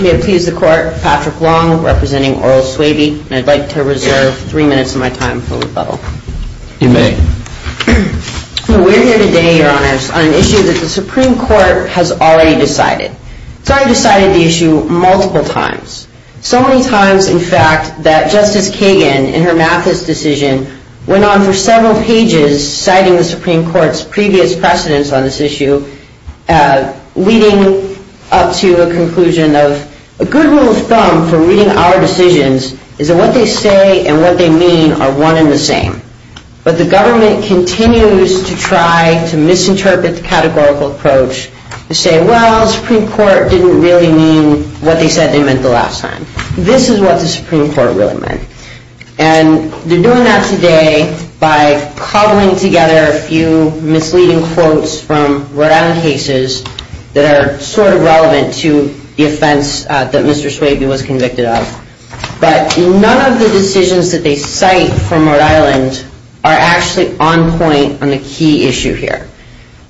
May it please the Court, Patrick Long, representing Oral Swaby, and I'd like to reserve three minutes of my time for rebuttal. You may. We're here today, Your Honors, on an issue that the Supreme Court has already decided. It's already decided the issue multiple times. So many times, in fact, that Justice Kagan, in her Mathis decision, went on for several pages citing the Supreme Court's previous precedence on this issue, leading up to a conclusion of, A good rule of thumb for reading our decisions is that what they say and what they mean are one and the same. But the government continues to try to misinterpret the categorical approach to say, Well, the Supreme Court didn't really mean what they said they meant the last time. This is what the Supreme Court really meant. And they're doing that today by cobbling together a few misleading quotes from Rhode Island cases that are sort of relevant to the offense that Mr. Swaby was convicted of. But none of the decisions that they cite from Rhode Island are actually on point on the key issue here.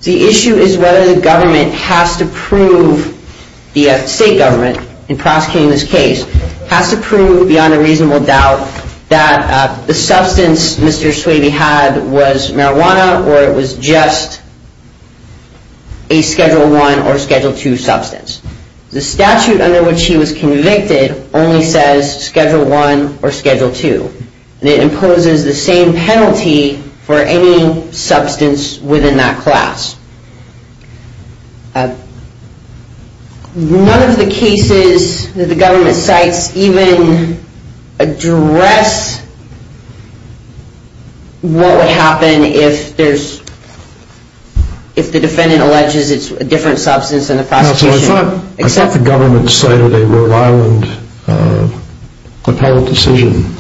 The issue is whether the government has to prove, the state government in prosecuting this case, has to prove beyond a reasonable doubt that the substance Mr. Swaby had was marijuana or it was just a Schedule I or Schedule II substance. The statute under which he was convicted only says Schedule I or Schedule II. It imposes the same penalty for any substance within that class. None of the cases that the government cites even address what would happen if the defendant alleges it's a different substance than the prosecution. I thought the government cited a Rhode Island appellate decision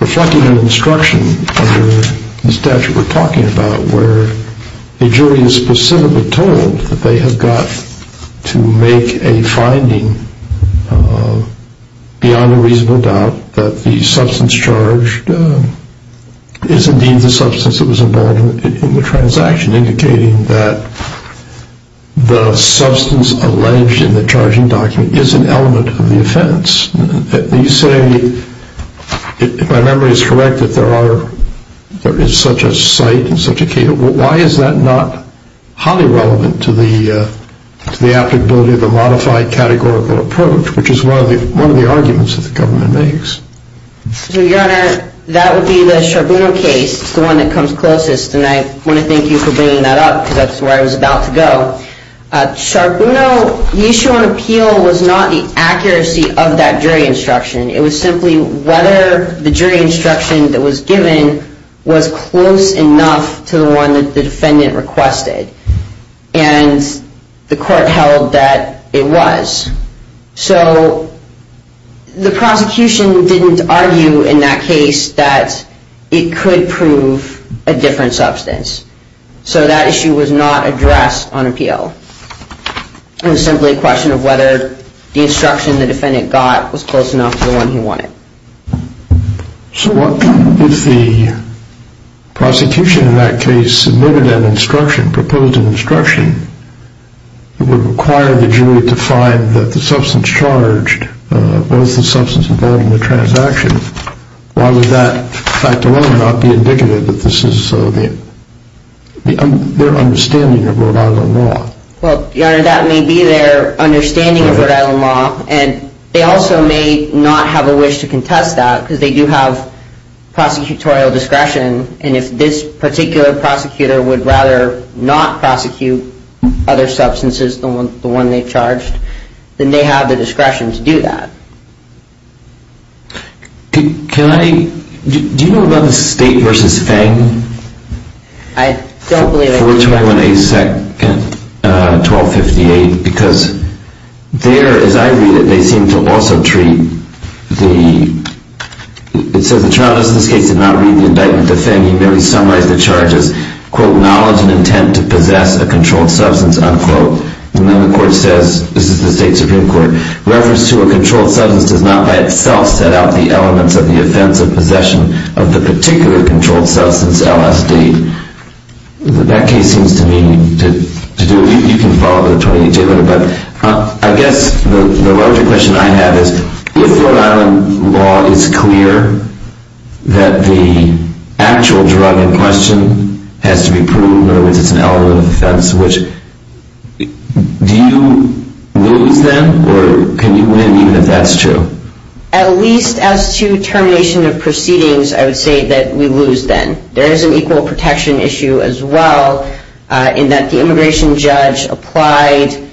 reflecting an instruction under the statute we're talking about where the jury is specifically told that they have got to make a finding beyond a reasonable doubt that the substance charged is indeed the substance that was involved in the transaction, indicating that the substance alleged in the charging document is an element of the offense. You say, if my memory is correct, that there is such a cite and such a case. Why is that not highly relevant to the applicability of a modified categorical approach, which is one of the arguments that the government makes? Your Honor, that would be the Charbonneau case, the one that comes closest. And I want to thank you for bringing that up because that's where I was about to go. Charbonneau, the issue on appeal was not the accuracy of that jury instruction. It was simply whether the jury instruction that was given was close enough to the one that the defendant requested. And the court held that it was. So the prosecution didn't argue in that case that it could prove a different substance. So that issue was not addressed on appeal. It was simply a question of whether the instruction the defendant got was close enough to the one he wanted. So what if the prosecution in that case submitted an instruction, proposed an instruction, that would require the jury to find that the substance charged was the substance involved in the transaction? Why would that fact alone not be indicative that this is their understanding of Rhode Island law? Well, Your Honor, that may be their understanding of Rhode Island law, and they also may not have a wish to contest that because they do have prosecutorial discretion. And if this particular prosecutor would rather not prosecute other substances than the one they charged, then they have the discretion to do that. Do you know about the State v. Feng? I don't believe I do. 421-812-58 because there, as I read it, they seem to also treat the... The State v. Feng, he summarized the charges, quote, knowledge and intent to possess a controlled substance, unquote. And then the court says, this is the State Supreme Court, reference to a controlled substance does not by itself set out the elements of the offense of possession of the particular controlled substance, LSD. That case seems to me to do it. You can follow up with a 28-day letter. But I guess the larger question I have is, if Rhode Island law is clear that the actual drug in question has to be proved, in other words, it's an element of the offense, do you lose then or can you win even if that's true? At least as to termination of proceedings, I would say that we lose then. There is an equal protection issue as well in that the immigration judge applied...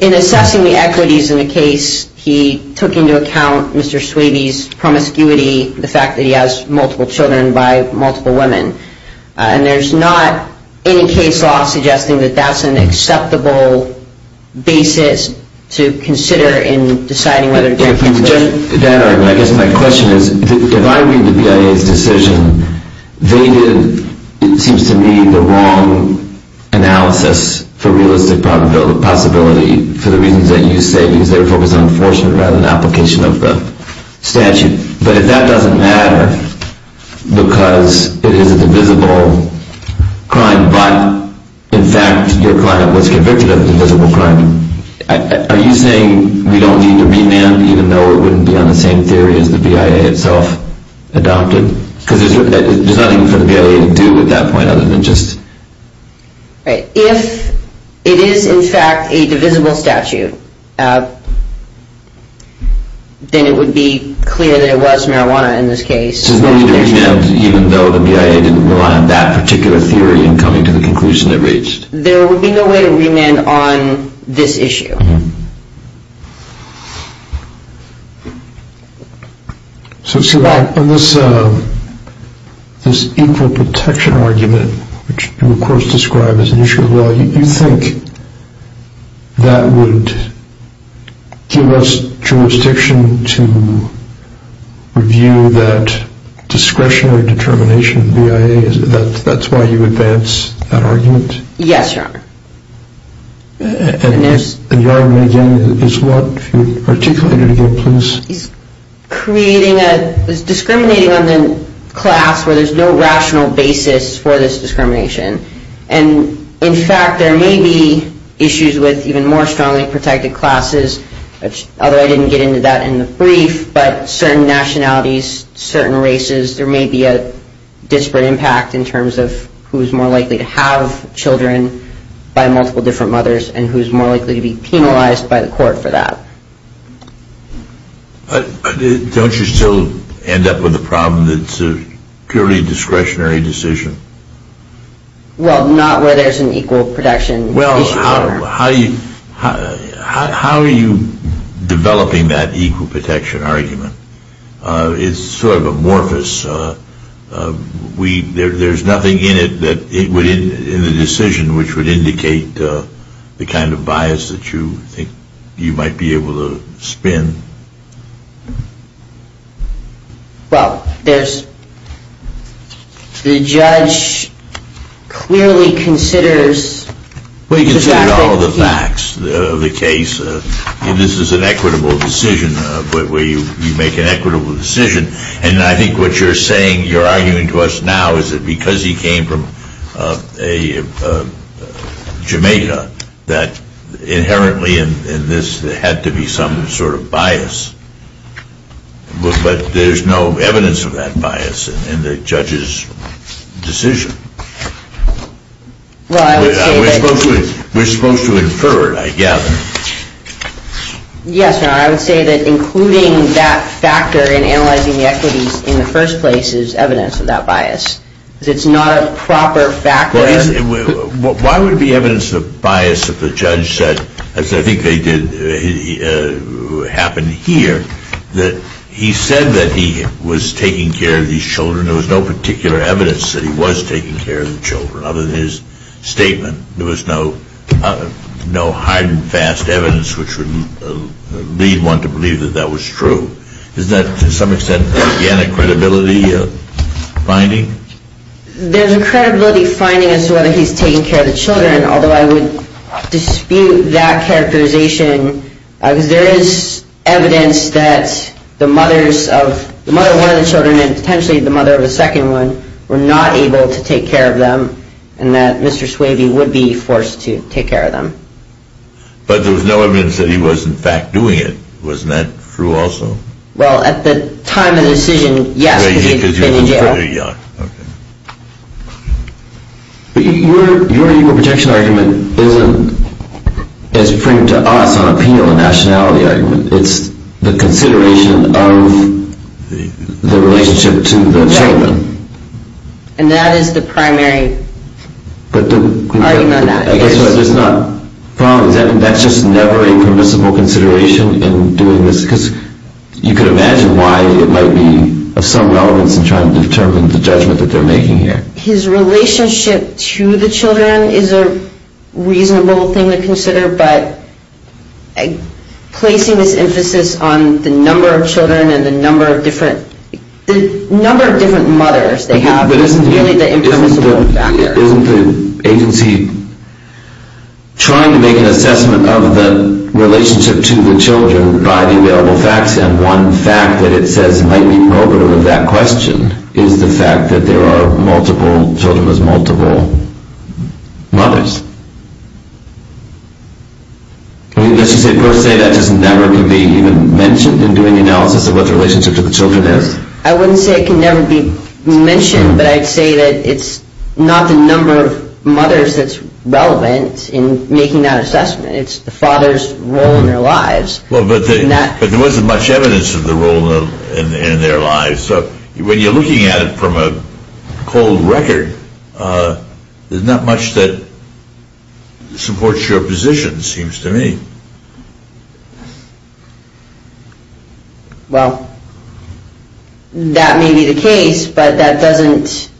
In assessing the equities in the case, he took into account Mr. Swabe's promiscuity, the fact that he has multiple children by multiple women. And there's not any case law suggesting that that's an acceptable basis to consider in deciding whether... I guess my question is, if I read the BIA's decision, they did, it seems to me, the wrong analysis for realistic possibility for the reasons that you say, because they were focused on enforcement rather than application of the statute. But if that doesn't matter because it is a divisible crime, but in fact your client was convicted of a divisible crime, are you saying we don't need to remand even though it wouldn't be on the same theory as the BIA itself adopted? Because there's nothing for the BIA to do at that point other than just... If it is in fact a divisible statute, then it would be clear that it was marijuana in this case. So there's no need to remand even though the BIA didn't rely on that particular theory in coming to the conclusion it reached? There would be no way to remand on this issue. So on this equal protection argument, which you of course describe as an issue of law, you think that would give us jurisdiction to review that discretionary determination of the BIA? Yes, Your Honor. And Your Honor, again, is what you articulated again, please? He's creating a... He's discriminating on the class where there's no rational basis for this discrimination. And in fact there may be issues with even more strongly protected classes, although I didn't get into that in the brief, but certain nationalities, certain races, there may be a disparate impact in terms of who's more likely to have children by multiple different mothers and who's more likely to be penalized by the court for that. Don't you still end up with a problem that's a purely discretionary decision? Well, not where there's an equal protection issue. Well, how are you developing that equal protection argument? It's sort of amorphous. There's nothing in the decision which would indicate the kind of bias that you think you might be able to spin. Well, the judge clearly considers... All the facts of the case. This is an equitable decision where you make an equitable decision. And I think what you're saying, you're arguing to us now is that because he came from Jamaica that inherently in this there had to be some sort of bias. But there's no evidence of that bias in the judge's decision. Well, I would say that... We're supposed to infer it, I gather. Yes, Your Honor, I would say that including that factor in analyzing the equities in the first place is evidence of that bias. Because it's not a proper factor... Why would it be evidence of bias if the judge said, as I think they did happen here, that he said that he was taking care of these children. There was no particular evidence that he was taking care of the children other than his statement. There was no hard and fast evidence which would lead one to believe that that was true. Is that to some extent, again, a credibility finding? There's a credibility finding as to whether he's taking care of the children, although I would dispute that characterization. Because there is evidence that the mother of one of the children and potentially the mother of the second one were not able to take care of them and that Mr. Swaby would be forced to take care of them. But there was no evidence that he was, in fact, doing it. Wasn't that true also? Well, at the time of the decision, yes, because he'd been in jail. But your legal protection argument isn't, as you bring to us on appeal, a nationality argument. It's the consideration of the relationship to the children. And that is the primary argument on that. That's just never a permissible consideration in doing this because you could imagine why it might be of some relevance in trying to determine the judgment that they're making here. His relationship to the children is a reasonable thing to consider, but placing this emphasis on the number of children and the number of different mothers they have isn't really the impermissible factor. Isn't the agency trying to make an assessment of the relationship to the children by the available facts, and one fact that it says might be probative of that question is the fact that there are multiple children with multiple mothers? I mean, does it per se that just never can be even mentioned in doing the analysis of what the relationship to the children is? I wouldn't say it can never be mentioned, but I'd say that it's not the number of mothers that's relevant in making that assessment. It's the father's role in their lives. But there wasn't much evidence of the role in their lives. So when you're looking at it from a cold record, there's not much that supports your position, it seems to me. Well, that may be the case, but that doesn't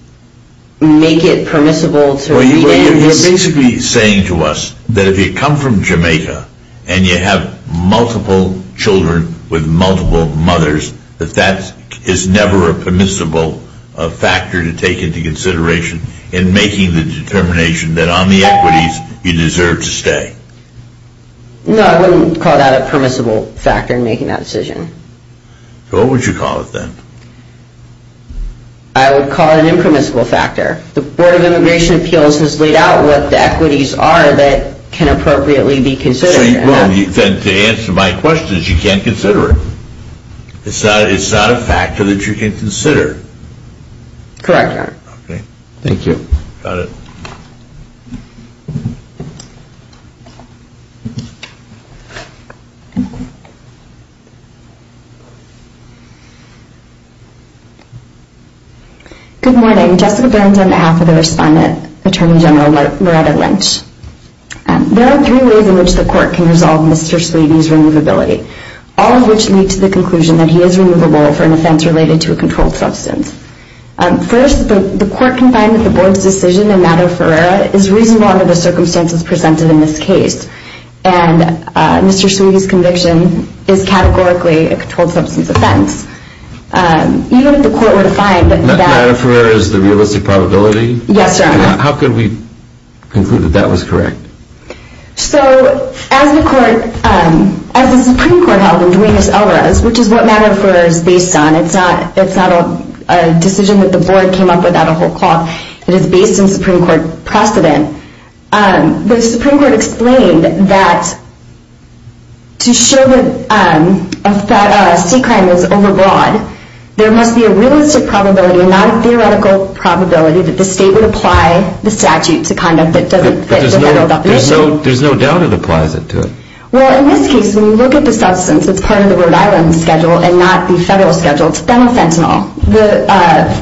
make it permissible to read in. Well, you're basically saying to us that if you come from Jamaica and you have multiple children with multiple mothers, that that is never a permissible factor to take into consideration in making the determination that on the equities you deserve to stay? No, I wouldn't call that a permissible factor in making that decision. So what would you call it, then? I would call it an impermissible factor. The Board of Immigration Appeals has laid out what the equities are that can appropriately be considered. Well, then to answer my question is you can't consider it. It's not a factor that you can consider. Correct, Your Honor. Okay, thank you. Got it. Good morning. Jessica Burns on behalf of the Respondent, Attorney General Loretta Lynch. There are three ways in which the court can resolve Mr. Sleavy's removability, all of which lead to the conclusion that he is removable for an offense related to a controlled substance. First, the court can find that the Board's decision in matter ferrera is reasonable under the circumstances presented in this case, and Mr. Sleavy's conviction is categorically a controlled substance offense. Even if the court were to find that that... Matter ferrera is the realistic probability? Yes, Your Honor. How could we conclude that that was correct? So as the Supreme Court held in Duenes-Elrez, which is what matter ferrera is based on, it's not a decision that the Board came up with out of whole cloth. It is based in Supreme Court precedent. The Supreme Court explained that to show that a sea crime is overbroad, there must be a realistic probability, not a theoretical probability, that the state would apply the statute to conduct that doesn't fit the federal definition. There's no doubt it applies to it. Well, in this case, when you look at the substance, it's part of the Rhode Island schedule and not the federal schedule. It's phenylfentanyl.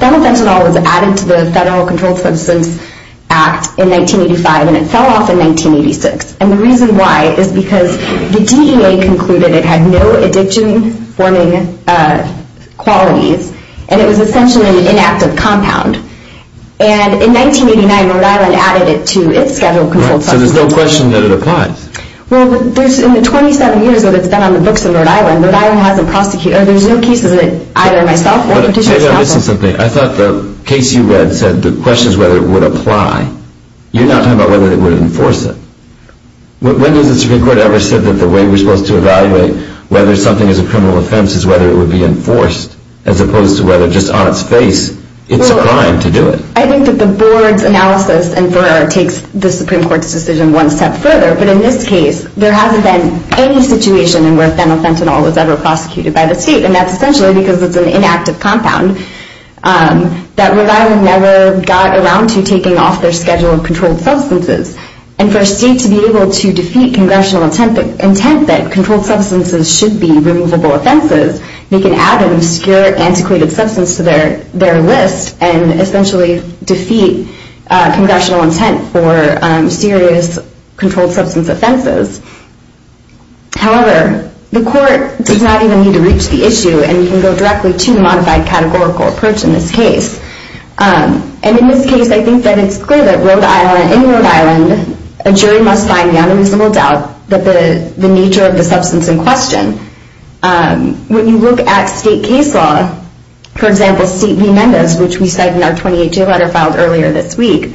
Phenylfentanyl was added to the Federal Controlled Substance Act in 1985, and it fell off in 1986. And the reason why is because the DEA concluded it had no addiction-informing qualities, and it was essentially an inactive compound. And in 1989, Rhode Island added it to its schedule of controlled substances. So there's no question that it applies? Well, there's in the 27 years that it's been on the books of Rhode Island, Rhode Island hasn't prosecuted it. There's no cases that either myself or Petitioner has not prosecuted. I thought the case you read said the question is whether it would apply. You're not talking about whether it would enforce it. When has the Supreme Court ever said that the way we're supposed to evaluate whether something is a criminal offense is whether it would be enforced, as opposed to whether just on its face it's a crime to do it? I think that the Board's analysis, in part, takes the Supreme Court's decision one step further. But in this case, there hasn't been any situation where phenethentanol was ever prosecuted by the state, and that's essentially because it's an inactive compound that Rhode Island never got around to taking off their schedule of controlled substances. And for a state to be able to defeat congressional intent that controlled substances should be removable offenses, make an ad in obscure, antiquated substance to their list, and essentially defeat congressional intent for serious controlled substance offenses. However, the court does not even need to reach the issue, and you can go directly to the modified categorical approach in this case. And in this case, I think that it's clear that in Rhode Island, a jury must find beyond a reasonable doubt the nature of the substance in question. When you look at state case law, for example, state v. Mendez, which we cite in our 28-J letter filed earlier this week,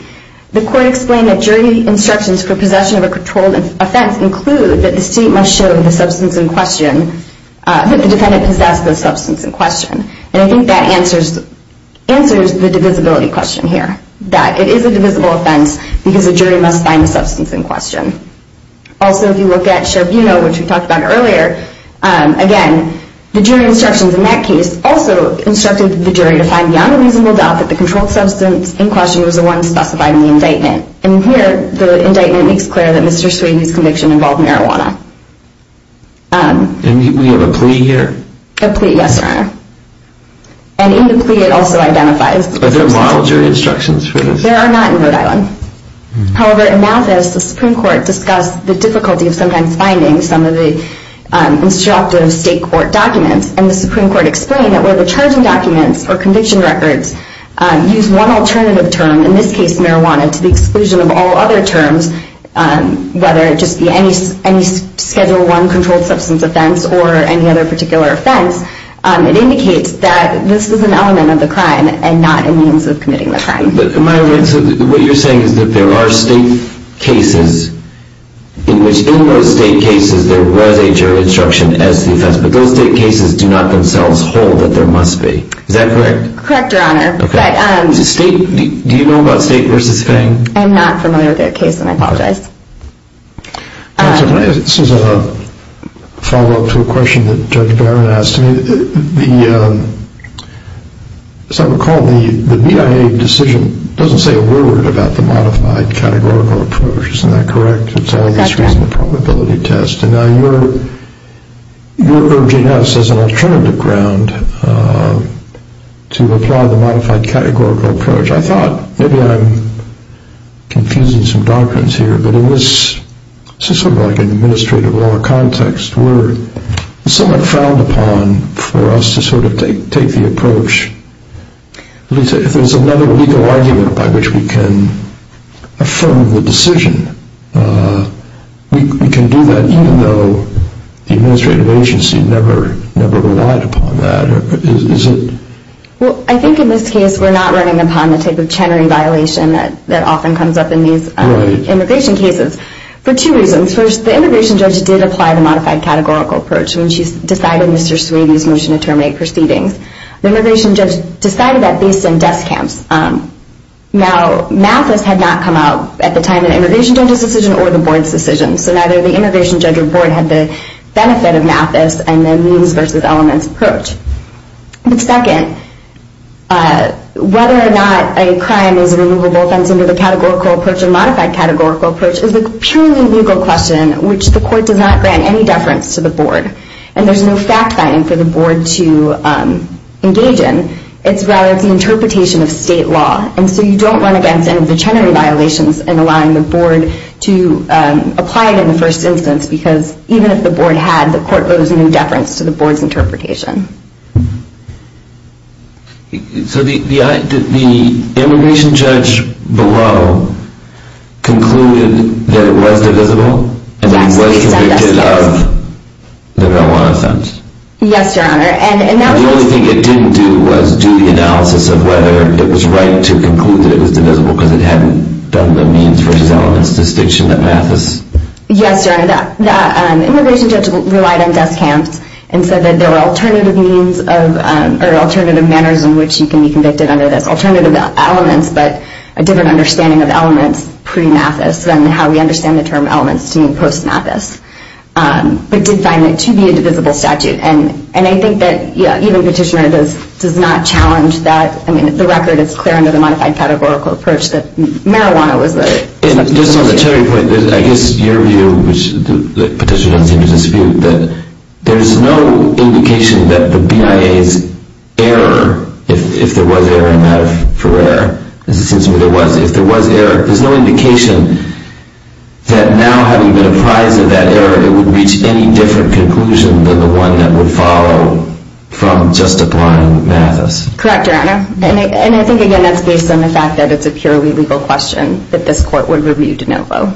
the court explained that jury instructions for possession of a controlled offense include that the state must show the substance in question, that the defendant possessed the substance in question. And I think that answers the divisibility question here, that it is a divisible offense because a jury must find the substance in question. Also, if you look at Sherbino, which we talked about earlier, again, the jury instructions in that case also instructed the jury to find beyond a reasonable doubt that the controlled substance in question was the one specified in the indictment. And here, the indictment makes clear that Mr. Sweeney's conviction involved marijuana. And we have a plea here? A plea, yes, Your Honor. And in the plea, it also identifies... Are there moral jury instructions for this? There are not in Rhode Island. However, in Malthus, the Supreme Court discussed the difficulty of sometimes finding some of the instructive state court documents, and the Supreme Court explained that where the charging documents or conviction records use one alternative term, in this case marijuana, to the exclusion of all other terms, whether it just be any Schedule I controlled substance offense or any other particular offense, it indicates that this is an element of the crime and not a means of committing the crime. What you're saying is that there are state cases in which in those state cases there was a jury instruction as to the offense, but those state cases do not themselves hold that there must be. Is that correct? Correct, Your Honor. Do you know about State v. Fang? I'm not familiar with that case, and I apologize. This is a follow-up to a question that Judge Barron asked me. As I recall, the BIA decision doesn't say a word about the modified categorical approach. Isn't that correct? That's right. It's all this reason and probability test. Now you're urging us as an alternative ground to apply the modified categorical approach. I thought maybe I'm confusing some doctrines here, but in this sort of like an administrative law context we're somewhat frowned upon for us to sort of take the approach. If there's another legal argument by which we can affirm the decision, we can do that even though the administrative agency never relied upon that. Well, I think in this case we're not running upon the type of Chenery violation that often comes up in these immigration cases for two reasons. First, the immigration judge did apply the modified categorical approach when she decided Mr. Swayde's motion to terminate proceedings. The immigration judge decided that based on desk camps. Now Mathis had not come out at the time of the immigration judge's decision or the board's decision, so neither the immigration judge or board had the benefit of Mathis and the means versus elements approach. Second, whether or not a crime is a removable offense under the categorical approach or a modified categorical approach is a purely legal question which the court does not grant any deference to the board. And there's no fact-finding for the board to engage in. It's rather the interpretation of state law. And so you don't run against any of the Chenery violations in allowing the board to apply it in the first instance because even if the board had, the court owes no deference to the board's interpretation. So the immigration judge below concluded that it was divisible and that it was convicted of the marijuana offense. Yes, Your Honor. And the only thing it didn't do was do the analysis of whether it was right to conclude that it was divisible because it hadn't done the means versus elements distinction that Mathis... Yes, Your Honor. The immigration judge relied on desk camps and said that there were alternative means or alternative manners in which you can be convicted under this. Alternative elements, but a different understanding of elements pre-Mathis than how we understand the term elements to mean post-Mathis. But did find it to be a divisible statute. And I think that even Petitioner does not challenge that. I mean, the record is clear under the modified categorical approach that marijuana was the... Just on the Chenery point, I guess your view, which Petitioner doesn't seem to dispute, that there's no indication that the BIA's error, if there was error in that for error, as it seems to me there was, if there was error, there's no indication that now having been apprised of that error, it would reach any different conclusion than the one that would follow from just applying Mathis. Correct, Your Honor. And I think, again, that's based on the fact that it's a purely legal question that this court would review de novo.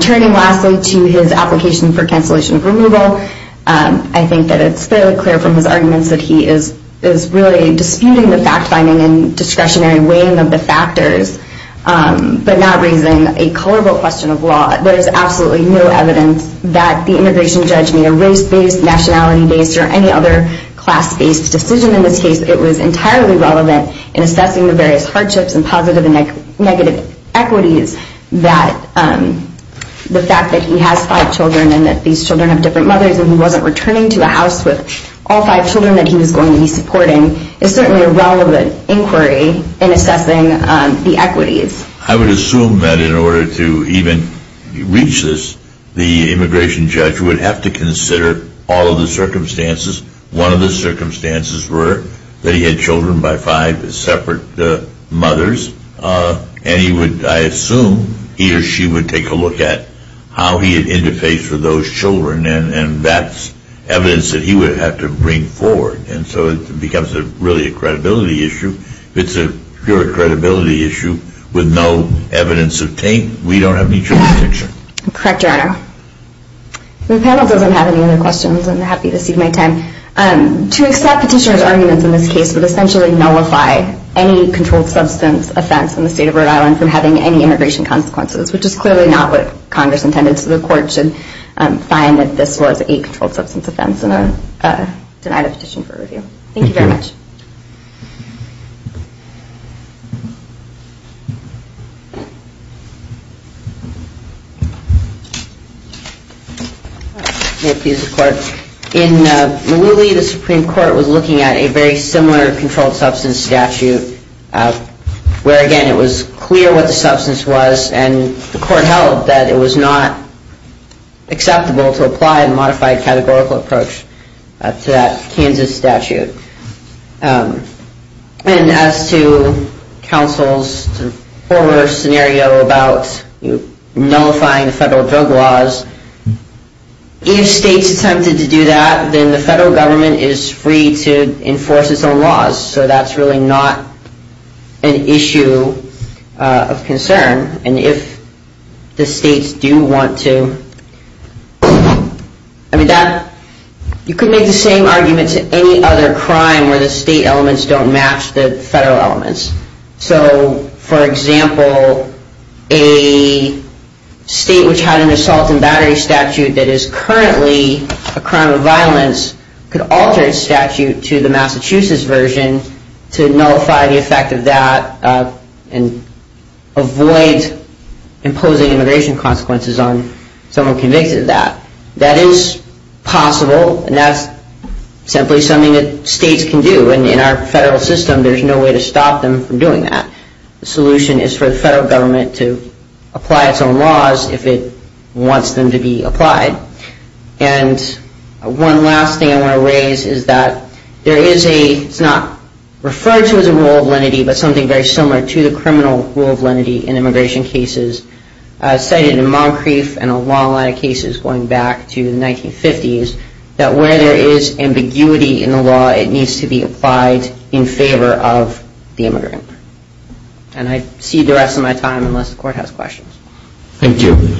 Turning lastly to his application for cancellation of removal, I think that it's fairly clear from his arguments that he is really disputing the fact-finding and discretionary weighing of the factors, but not raising a colorable question of law. There is absolutely no evidence that the integration judgment, race-based, nationality-based, or any other class-based decision in this case, it was entirely relevant in assessing the various hardships and positive and negative equities that the fact that he has five children and that these children have different mothers and he wasn't returning to a house with all five children that he was going to be supporting, is certainly a relevant inquiry in assessing the equities. I would assume that in order to even reach this, the immigration judge would have to consider all of the circumstances. One of the circumstances were that he had children by five separate mothers, and he would, I assume, he or she would take a look at how he had interfaced with those children, and that's evidence that he would have to bring forward. And so it becomes really a credibility issue. If it's a pure credibility issue with no evidence of taint, we don't have any child protection. Correct, Your Honor. The panel doesn't have any other questions. I'm happy to cede my time. To accept petitioner's arguments in this case would essentially nullify any controlled substance offense in the state of Rhode Island from having any immigration consequences, which is clearly not what Congress intended, so the Court should find that this was a controlled substance offense and deny the petition for review. Thank you very much. May it please the Court. In Malooly, the Supreme Court was looking at a very similar controlled substance statute, where, again, it was clear what the substance was, and the Court held that it was not acceptable to apply a modified categorical approach to that Kansas statute. And as to counsel's earlier scenario about nullifying the federal drug laws, if states attempted to do that, then the federal government is free to enforce its own laws, so that's really not an issue of concern. And if the states do want to, I mean, that, you could make the same argument to any other crime where the state elements don't match the federal elements. So, for example, a state which had an assault and battery statute that is currently a crime of violence could alter its statute to the Massachusetts version to nullify the effect of that and avoid imposing immigration consequences on someone convicted of that. That is possible, and that's simply something that states can do. And in our federal system, there's no way to stop them from doing that. The solution is for the federal government to apply its own laws if it wants them to be applied. And one last thing I want to raise is that there is a, it's not referred to as a rule of lenity, but something very similar to the criminal rule of lenity in immigration cases, cited in Moncrief and a long line of cases going back to the 1950s, that where there is ambiguity in the law, it needs to be applied in favor of the immigrant. And I cede the rest of my time unless the Court has questions. Thank you.